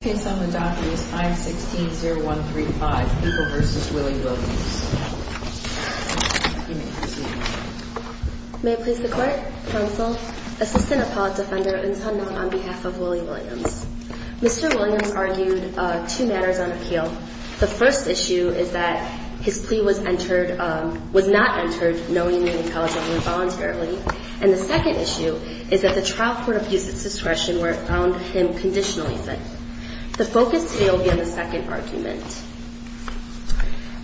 The case on the docket is 516-0135, Eagle v. Willie Williams. You may proceed. May it please the Court, Counsel, Assistant Apollo Defender, and Sonoma on behalf of Willie Williams. Mr. Williams argued two matters on appeal. The first issue is that his plea was not entered knowing that he called the number voluntarily. And the second issue is that the trial court abused its discretion where it found him conditionally fit. The focus today will be on the second argument.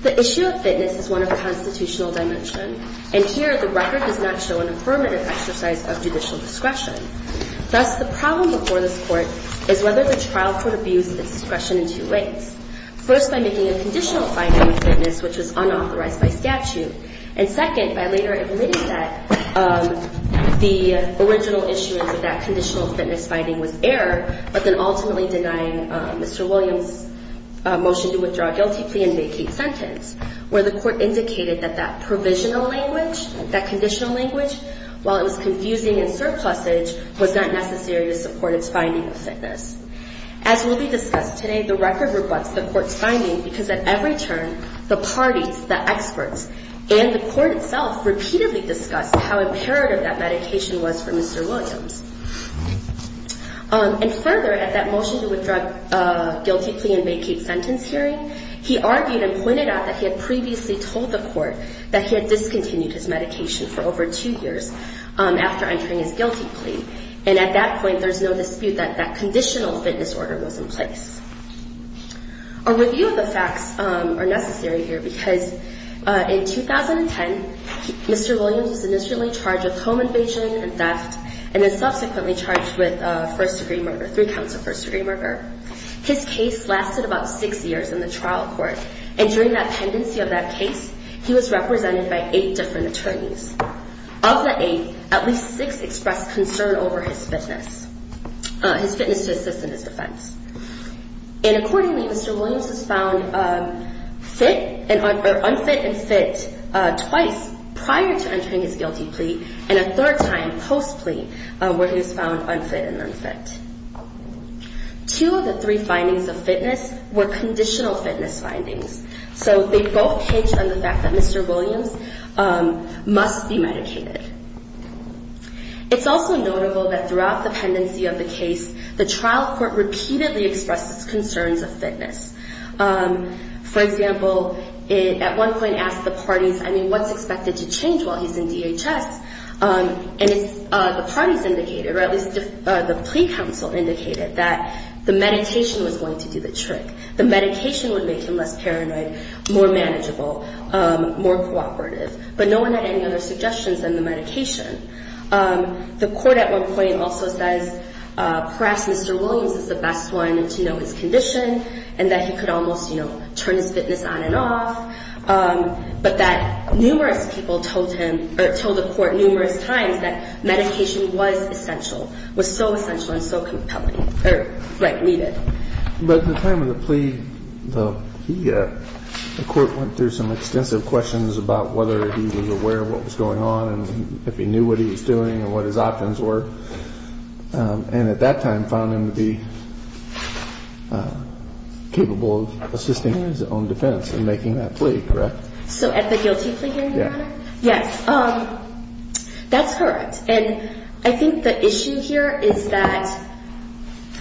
The issue of fitness is one of the constitutional dimension, and here the record does not show an affirmative exercise of judicial discretion. Thus, the problem before this Court is whether the trial court abused its discretion in two ways. First, by making a conditional finding of fitness, which was unauthorized by statute. And second, by later admitting that the original issuance of that conditional fitness finding was error, but then ultimately denying Mr. Williams' motion to withdraw guilty plea and vacate sentence, where the Court indicated that that provisional language, that conditional language, while it was confusing in surplusage, was not necessary to support its finding of fitness. As will be discussed today, the record rebutts the Court's finding because at every turn, the parties, the experts, and the Court itself repeatedly discussed how imperative that medication was for Mr. Williams. And further, at that motion to withdraw guilty plea and vacate sentence hearing, he argued and pointed out that he had previously told the Court that he had discontinued his medication for over two years after entering his guilty plea. And at that point, there's no dispute that that conditional fitness order was in place. A review of the facts are necessary here because in 2010, Mr. Williams was initially charged with home invasion and theft and then subsequently charged with first-degree murder, three counts of first-degree murder. His case lasted about six years in the trial court. And during that pendency of that case, he was represented by eight different attorneys. Of the eight, at least six expressed concern over his fitness, his fitness to assist in his defense. And accordingly, Mr. Williams was found fit or unfit and fit twice prior to entering his guilty plea and a third time post-plea where he was found unfit and unfit. Two of the three findings of fitness were conditional fitness findings. So they both hinge on the fact that Mr. Williams must be medicated. It's also notable that throughout the pendency of the case, the trial court repeatedly expressed its concerns of fitness. For example, at one point asked the parties, I mean, what's expected to change while he's in DHS? And the parties indicated, or at least the plea council indicated that the meditation was going to do the trick. The medication would make him less paranoid, more manageable, more cooperative. But no one had any other suggestions than the medication. The court at one point also says perhaps Mr. Williams is the best one to know his condition and that he could almost, you know, turn his fitness on and off. But that numerous people told him or told the court numerous times that medication was essential, was so essential and so compelling. Or, right, leave it. But at the time of the plea, the court went through some extensive questions about whether he was aware of what was going on and if he knew what he was doing and what his options were. And at that time found him to be capable of assisting his own defense in making that plea, correct? So at the guilty plea hearing, Your Honor? Yes. That's correct. And I think the issue here is that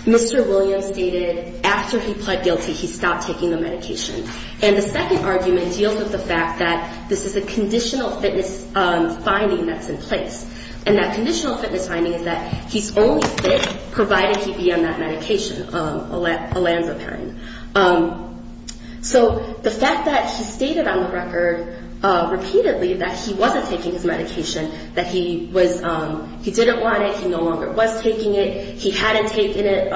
Mr. Williams stated after he pled guilty he stopped taking the medication. And the second argument deals with the fact that this is a conditional fitness finding that's in place. And that conditional fitness finding is that he's only fit provided he be on that medication, a Lanzaparin. So the fact that he stated on the record repeatedly that he wasn't taking his medication, that he didn't want it, he no longer was taking it, he hadn't taken it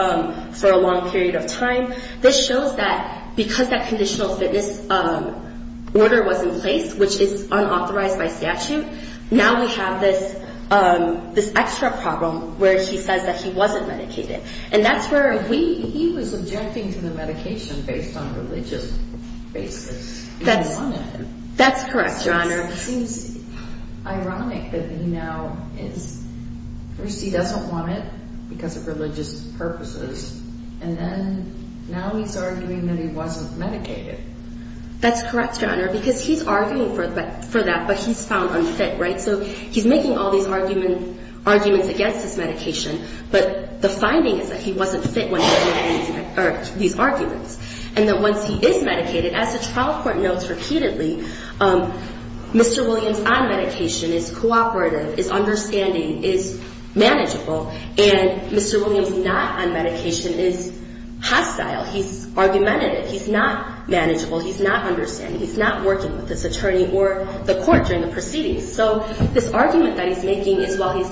for a long period of time, this shows that because that conditional fitness order was in place, which is unauthorized by statute, now we have this extra problem where he says that he wasn't medicated. And that's where we... He was objecting to the medication based on religious basis. That's correct, Your Honor. It seems ironic that he now is... first he doesn't want it because of religious purposes, and then now he's arguing that he wasn't medicated. That's correct, Your Honor, because he's arguing for that, but he's found unfit, right? So he's making all these arguments against his medication, but the finding is that he wasn't fit when he made these arguments. And that once he is medicated, as the trial court notes repeatedly, Mr. Williams on medication is cooperative, is understanding, is manageable, and Mr. Williams not on medication is hostile. He's argumentative. He's not manageable. He's not understanding. He's not working with this attorney or the court during the proceedings. So this argument that he's making is while he's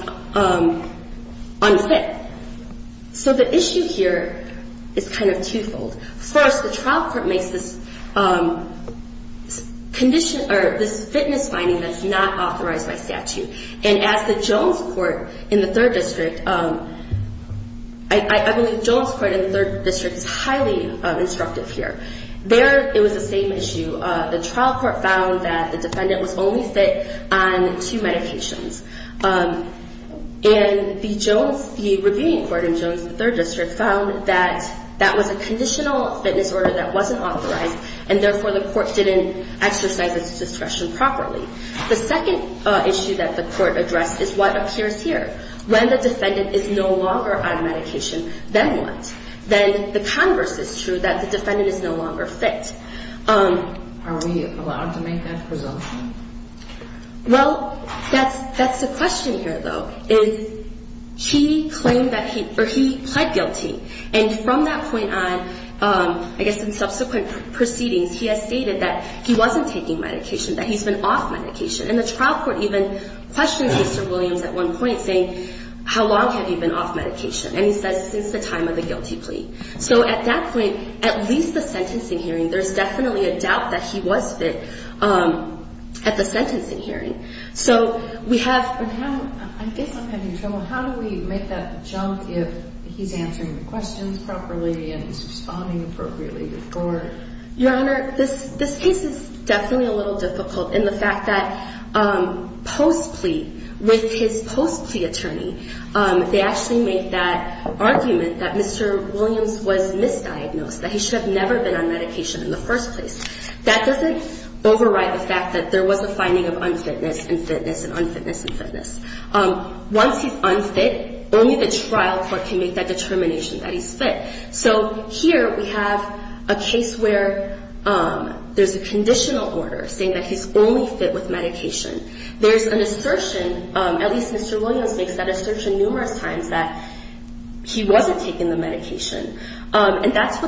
unfit. So the issue here is kind of twofold. First, the trial court makes this fitness finding that's not authorized by statute. And as the Jones court in the third district... I believe Jones court in the third district is highly instructive here. There it was the same issue. The trial court found that the defendant was only fit on two medications. And the Jones, the reviewing court in Jones, the third district, found that that was a conditional fitness order that wasn't authorized, and therefore the court didn't exercise its discretion properly. The second issue that the court addressed is what appears here. When the defendant is no longer on medication, then what? Then the converse is true, that the defendant is no longer fit. Are we allowed to make that presumption? Well, that's the question here, though, is he claimed that he or he pled guilty. And from that point on, I guess in subsequent proceedings, he has stated that he wasn't taking medication, that he's been off medication. And the trial court even questioned Mr. Williams at one point, saying, how long have you been off medication? And he says, since the time of the guilty plea. So at that point, at least the sentencing hearing, there's definitely a doubt that he was fit at the sentencing hearing. So we have. I guess I'm having trouble. How do we make that jump if he's answering the questions properly and responding appropriately to the court? Your Honor, this case is definitely a little difficult in the fact that post-plea, with his post-plea attorney, they actually make that argument that Mr. Williams was misdiagnosed, that he should have never been on medication in the first place. That doesn't override the fact that there was a finding of unfitness and fitness and unfitness and fitness. Once he's unfit, only the trial court can make that determination that he's fit. So here we have a case where there's a conditional order saying that he's only fit with medication. There's an assertion, at least Mr. Williams makes that assertion numerous times, that he wasn't taking the medication. And that's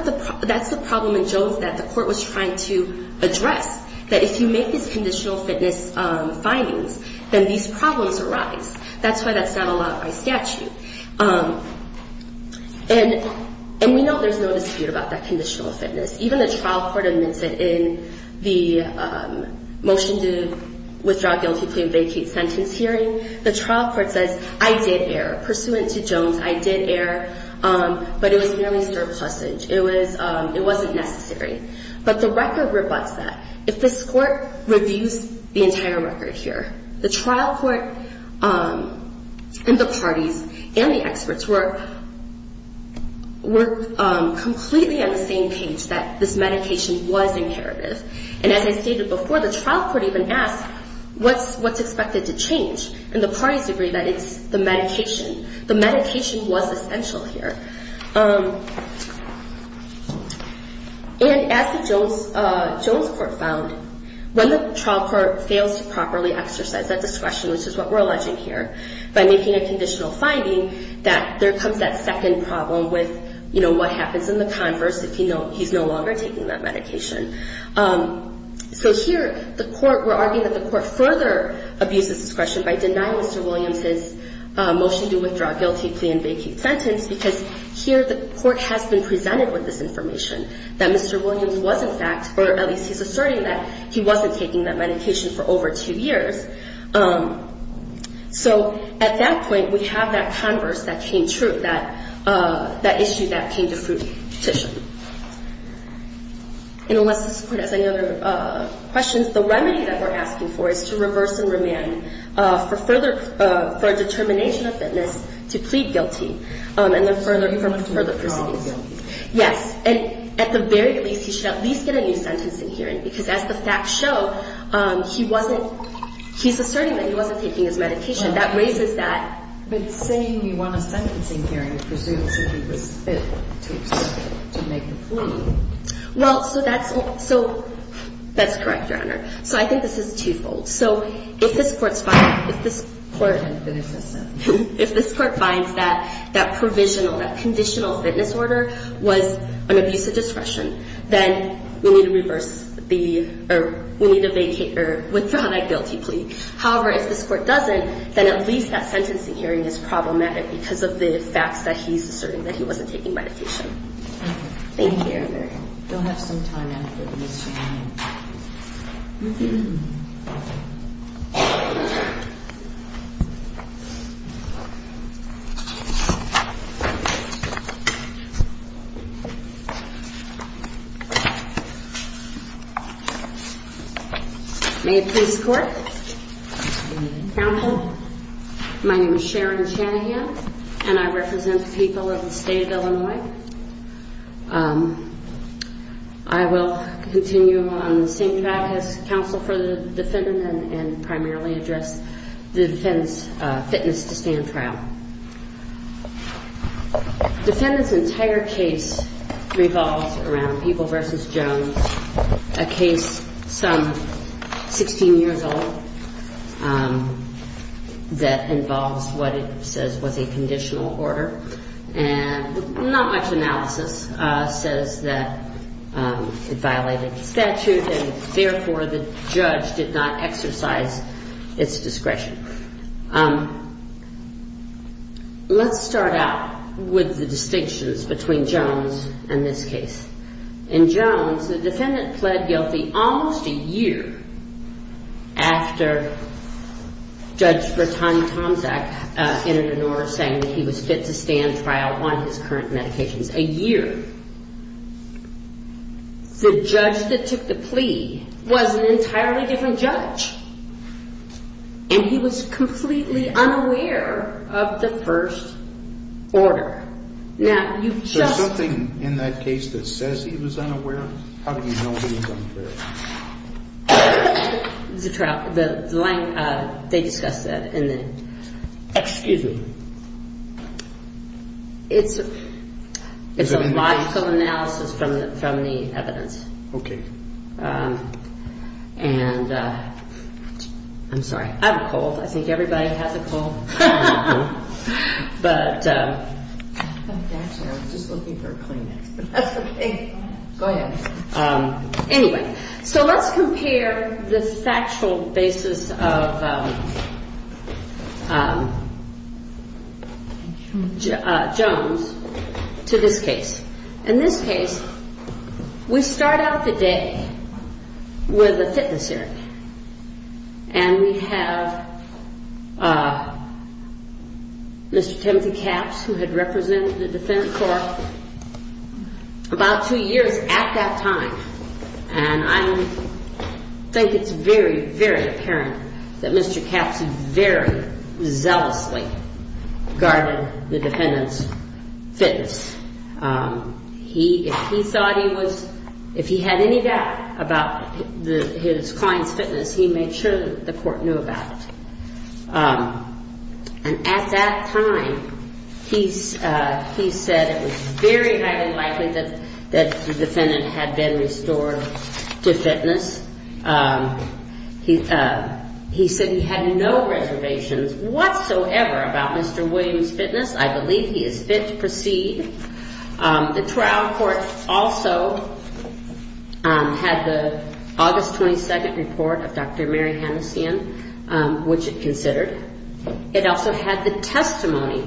the problem in Jones that the court was trying to address, that if you make these conditional fitness findings, then these problems arise. That's why that's not allowed by statute. And we know there's no dispute about that conditional fitness. Even the trial court admits it in the motion to withdraw guilty plea and vacate sentence hearing. The trial court says, I did err. Pursuant to Jones, I did err. But it was merely surplusage. It wasn't necessary. But the record rebuts that. If this court reviews the entire record here, the trial court and the parties and the experts were completely on the same page that this medication was imperative. And as I stated before, the trial court even asked what's expected to change. And the parties agree that it's the medication. The medication was essential here. And as the Jones court found, when the trial court fails to properly exercise that discretion, which is what we're alleging here, by making a conditional finding, that there comes that second problem with, you know, what happens in the converse if he's no longer taking that medication. So here, the court, we're arguing that the court further abuses discretion by denying Mr. Williams his motion to withdraw guilty plea and vacate sentence because here the court has been presented with this information, that Mr. Williams was in fact, or at least he's asserting that, he wasn't taking that medication for over two years. So at that point, we have that converse that came true, that issue that came to fruition. And unless this court has any other questions, the remedy that we're asking for is to reverse and remand for a determination of fitness to plead guilty and then further proceedings. Yes, and at the very least, he should at least get a new sentence in hearing because as the facts show, he's asserting that he wasn't taking his medication. That raises that. But saying you want a sentencing hearing presumes that he was fit to make a plea. Well, so that's correct, Your Honor. So I think this is twofold. So if this court finds that provisional, that conditional fitness order was an abuse of discretion, then we need to withdraw that guilty plea. However, if this court doesn't, then at least that sentencing hearing is problematic because of the facts that he's asserting that he wasn't taking medication. Thank you, Your Honor. You'll have some time after this, Your Honor. May it please the Court. Counsel. My name is Sharon Shanahan, and I represent the people of the state of Illinois. I will continue on the same track as counsel for the defendant and primarily address the defendant's fitness to stand trial. Defendant's entire case revolves around People v. Jones, a case some 16 years old that involves what it says was a conditional order. And not much analysis says that it violated statute, and therefore the judge did not exercise its discretion. Let's start out with the distinctions between Jones and this case. In Jones, the defendant pled guilty almost a year after Judge Bertani Tomczak entered an order saying that he was fit to stand trial on his current medications. A year. The judge that took the plea was an entirely different judge, and he was completely unaware of the first order. Now, you've just... So something in that case that says he was unaware, how do you know he was unaware? The line, they discussed that in the... Excuse me. It's a logical analysis from the evidence. Okay. And... I'm sorry. I'm cold. I think everybody has a cold. But... I was just looking for a Kleenex. That's okay. Go ahead. Anyway, so let's compare the factual basis of Jones to this case. In this case, we start out the day with a fitness error, and we have Mr. Timothy Capps, who had represented the defendant for about two years at that time. And I think it's very, very apparent that Mr. Capps very zealously guarded the defendant's fitness. He thought he was... If he had any doubt about his client's fitness, he made sure that the court knew about it. And at that time, he said it was very highly likely that the defendant had been restored to fitness. He said he had no reservations whatsoever about Mr. Williams' fitness. I believe he is fit to proceed. The trial court also had the August 22nd report of Dr. Mary Hanessian, which it considered. It also had the testimony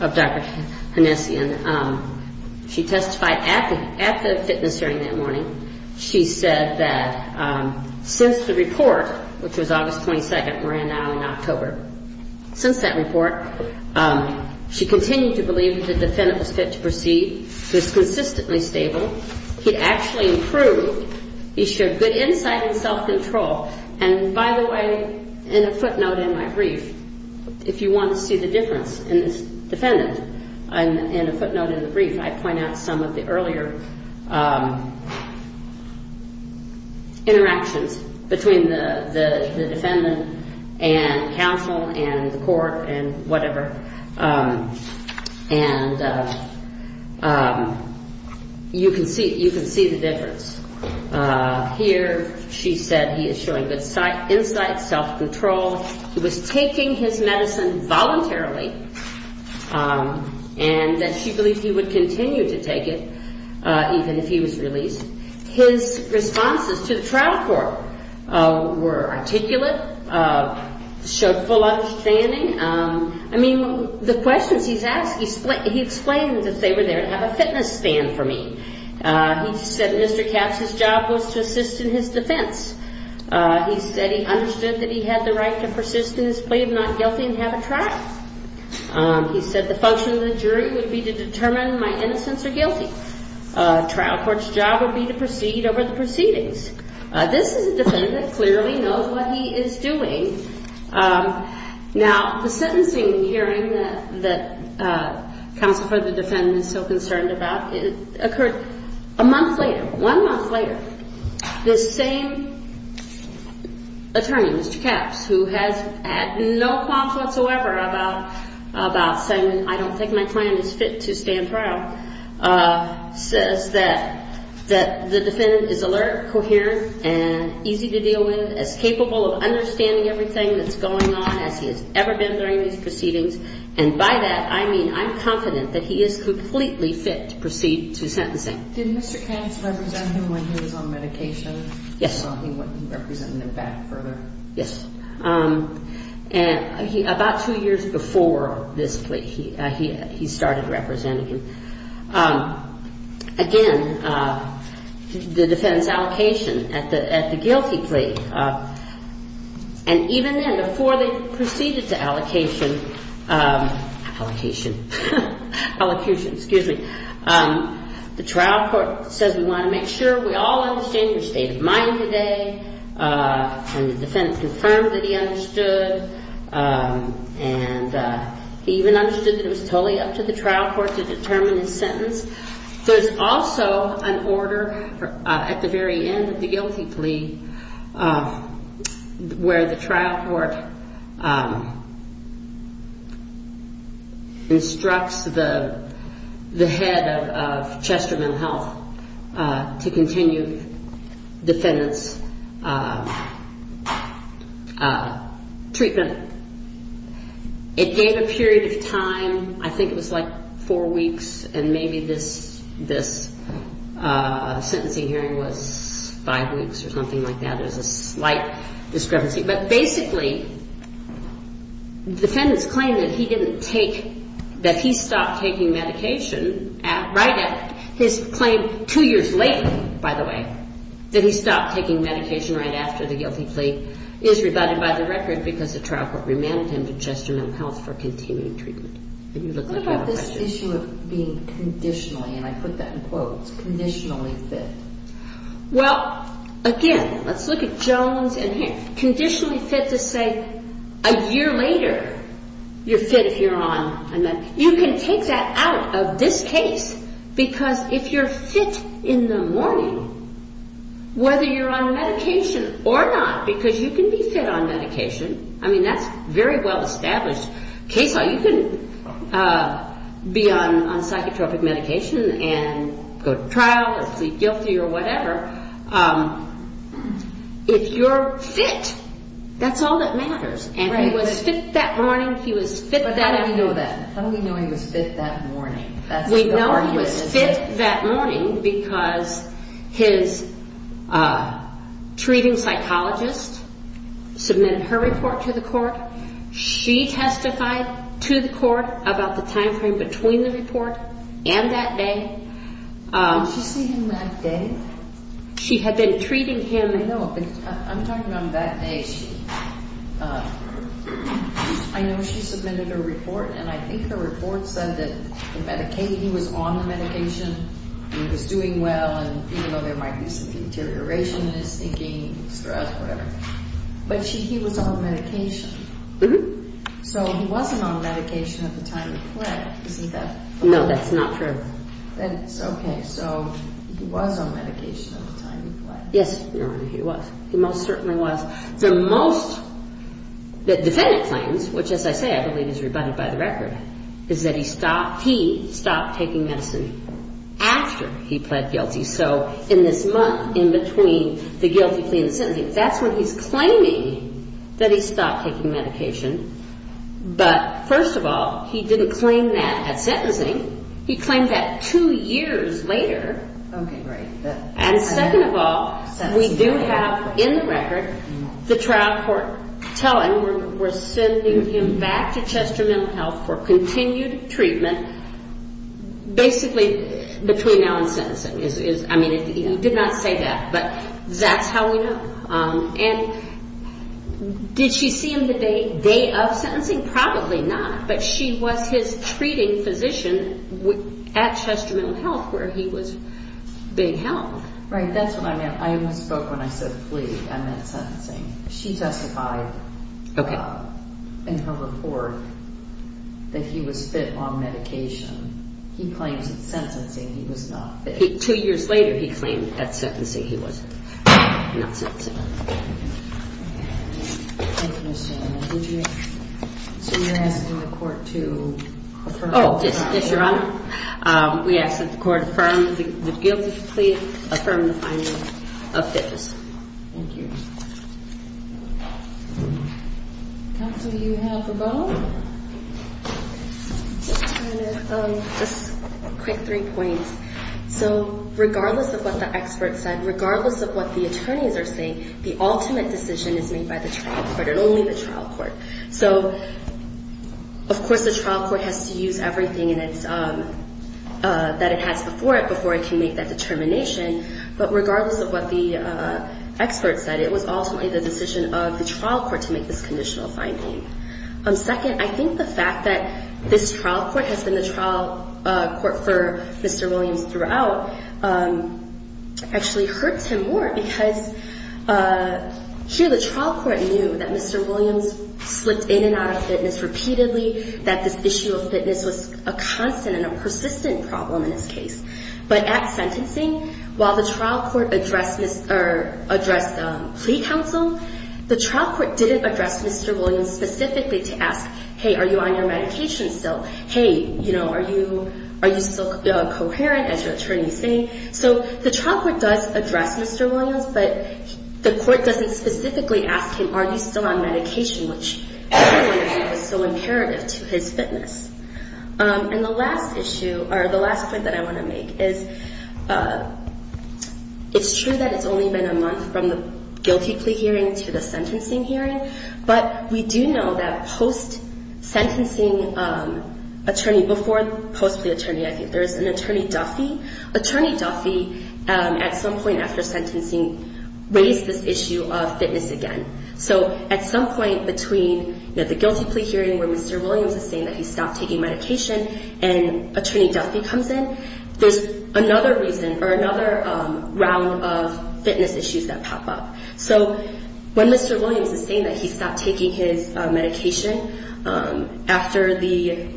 of Dr. Hanessian. She testified at the fitness hearing that morning. She said that since the report, which was August 22nd, we're in now in October. Since that report, she continued to believe that the defendant was fit to proceed. He was consistently stable. He actually improved. He showed good insight and self-control. And, by the way, in a footnote in my brief, if you want to see the difference in this defendant, in a footnote in the brief, I point out some of the earlier interactions between the defendant and counsel and the court and whatever, and you can see the difference. Here she said he is showing good insight, self-control. He was taking his medicine voluntarily, and that she believed he would continue to take it even if he was released. His responses to the trial court were articulate, showed full understanding. I mean, the questions he's asked, he explained that they were there to have a fitness stand for me. He said Mr. Katz's job was to assist in his defense. He said he understood that he had the right to persist in his plea of not guilty and have a trial. He said the function of the jury would be to determine my innocence or guilty. The trial court's job would be to proceed over the proceedings. This is a defendant that clearly knows what he is doing. Now, the sentencing hearing that counsel for the defendant is so concerned about occurred a month later. One month later, this same attorney, Mr. Katz, who has had no qualms whatsoever about saying, I don't think my client is fit to stand trial, says that the defendant is alert, coherent, and easy to deal with, is capable of understanding everything that's going on as he has ever been during these proceedings. And by that, I mean I'm confident that he is completely fit to proceed to sentencing. Did Mr. Katz represent him when he was on medication? Yes. So he wouldn't represent him back further? Yes. And about two years before this plea, he started representing him. Again, the defendant's allocation at the guilty plea, and even then, before they proceeded to allocation, allocation, excuse me, the trial court says we want to make sure we all understand your state of mind today and the defendant confirmed that he understood. And he even understood that it was totally up to the trial court to determine his sentence. There's also an order at the very end of the guilty plea where the trial court instructs the head of Chester Mental Health to continue defendant's treatment. It gave a period of time. I think it was like four weeks, and maybe this sentencing hearing was five weeks or something like that. There's a slight discrepancy. But basically, the defendant's claim that he stopped taking medication right at his claim two years later, by the way, that he stopped taking medication right after the guilty plea is rebutted by the record because the trial court remanded him to Chester Mental Health for continuing treatment. What about this issue of being conditionally, and I put that in quotes, conditionally fit? Well, again, let's look at Jones and here. Conditionally fit to say a year later you're fit if you're on a medication. You can take that out of this case because if you're fit in the morning, whether you're on medication or not, because you can be fit on medication. I mean, that's very well established. You can be on psychotropic medication and go to trial and plead guilty or whatever. If you're fit, that's all that matters. And he was fit that morning. He was fit that morning. But how do we know that? How do we know he was fit that morning? We know he was fit that morning because his treating psychologist submitted her report to the court. She testified to the court about the timeframe between the report and that day. Did she see him that day? She had been treating him. I know, but I'm talking about that day. I know she submitted her report, and I think her report said that he was on the medication, and he was doing well, and even though there might be some deterioration in his thinking, stress, whatever. But he was on medication. Mm-hmm. So he wasn't on medication at the time he pled, isn't that correct? No, that's not true. Then it's okay. So he was on medication at the time he pled. Yes, Your Honor, he was. He most certainly was. The most that defendant claims, which, as I say, I believe is rebutted by the record, is that he stopped taking medicine after he pled guilty. So in this month in between the guilty plea and sentencing, that's when he's claiming that he stopped taking medication. But, first of all, he didn't claim that at sentencing. He claimed that two years later. Okay, right. And second of all, we do have in the record the trial court telling we're sending him back to Chester Mental Health for continued treatment basically between now and sentencing. I mean, he did not say that, but that's how we know. And did she see him the day of sentencing? Probably not, but she was his treating physician at Chester Mental Health where he was being held. Right, that's what I meant. I only spoke when I said plea. I meant sentencing. She testified in her report that he was fit on medication. He claims at sentencing he was not fit. Two years later he claimed at sentencing he was not fit. Thank you, Ms. Solomon. So you're asking the court to affirm? Yes, Your Honor. We ask that the court affirm the guilty plea, affirm the finding of fitness. Thank you. Counsel, do you have a vote? Just a quick three points. So regardless of what the expert said, regardless of what the attorneys are saying, the ultimate decision is made by the trial court and only the trial court. So, of course, the trial court has to use everything that it has before it before it can make that determination. But regardless of what the expert said, it was ultimately the decision of the trial court to make this conditional finding. Second, I think the fact that this trial court has been the trial court for Mr. Williams throughout actually hurts him more because here the trial court knew that Mr. Williams slipped in and out of fitness repeatedly, that this issue of fitness was a constant and a persistent problem in his case. But at sentencing, while the trial court addressed plea counsel, the trial court didn't address Mr. Williams specifically to ask, hey, are you on your medication still? Hey, are you still coherent, as your attorney is saying? So the trial court does address Mr. Williams, but the court doesn't specifically ask him, are you still on medication, which is so imperative to his fitness. And the last point that I want to make is it's true that it's only been a month from the guilty plea hearing to the sentencing hearing, but we do know that post-sentencing attorney, before post-plea attorney, I think there was an attorney Duffy. Attorney Duffy, at some point after sentencing, raised this issue of fitness again. So at some point between the guilty plea hearing where Mr. Williams is saying that he stopped taking medication and attorney Duffy comes in, there's another reason or another round of fitness issues that pop up. So when Mr. Williams is saying that he stopped taking his medication after the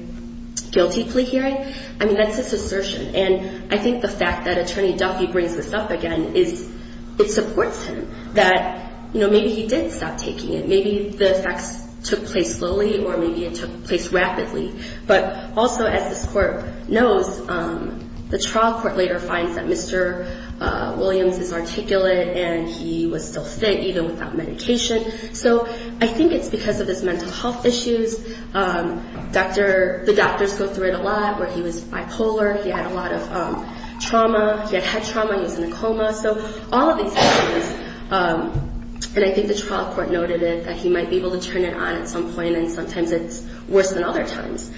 guilty plea hearing, I mean, that's his assertion. And I think the fact that attorney Duffy brings this up again is it supports him, that maybe he did stop taking it, maybe the effects took place slowly or maybe it took place rapidly. But also, as this court knows, the trial court later finds that Mr. Williams is articulate and he was still fit even without medication. So I think it's because of his mental health issues. The doctors go through it a lot where he was bipolar, he had a lot of trauma, he had head trauma, he was in a coma. So all of these things, and I think the trial court noted it, that he might be able to turn it on at some point and sometimes it's worse than other times.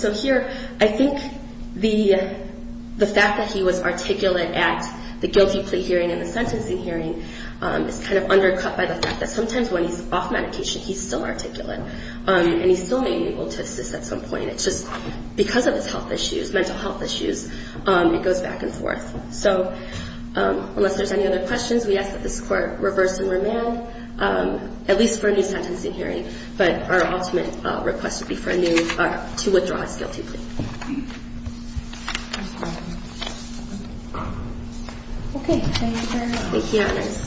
So here, I think the fact that he was articulate at the guilty plea hearing and the sentencing hearing is kind of undercut by the fact that sometimes when he's off medication, he's still articulate and he's still maybe able to assist at some point. It's just because of his health issues, mental health issues, it goes back and forth. So unless there's any other questions, we ask that this court reverse the remand, at least for a new sentencing hearing, but our ultimate request would be to withdraw his guilty plea. Thank you.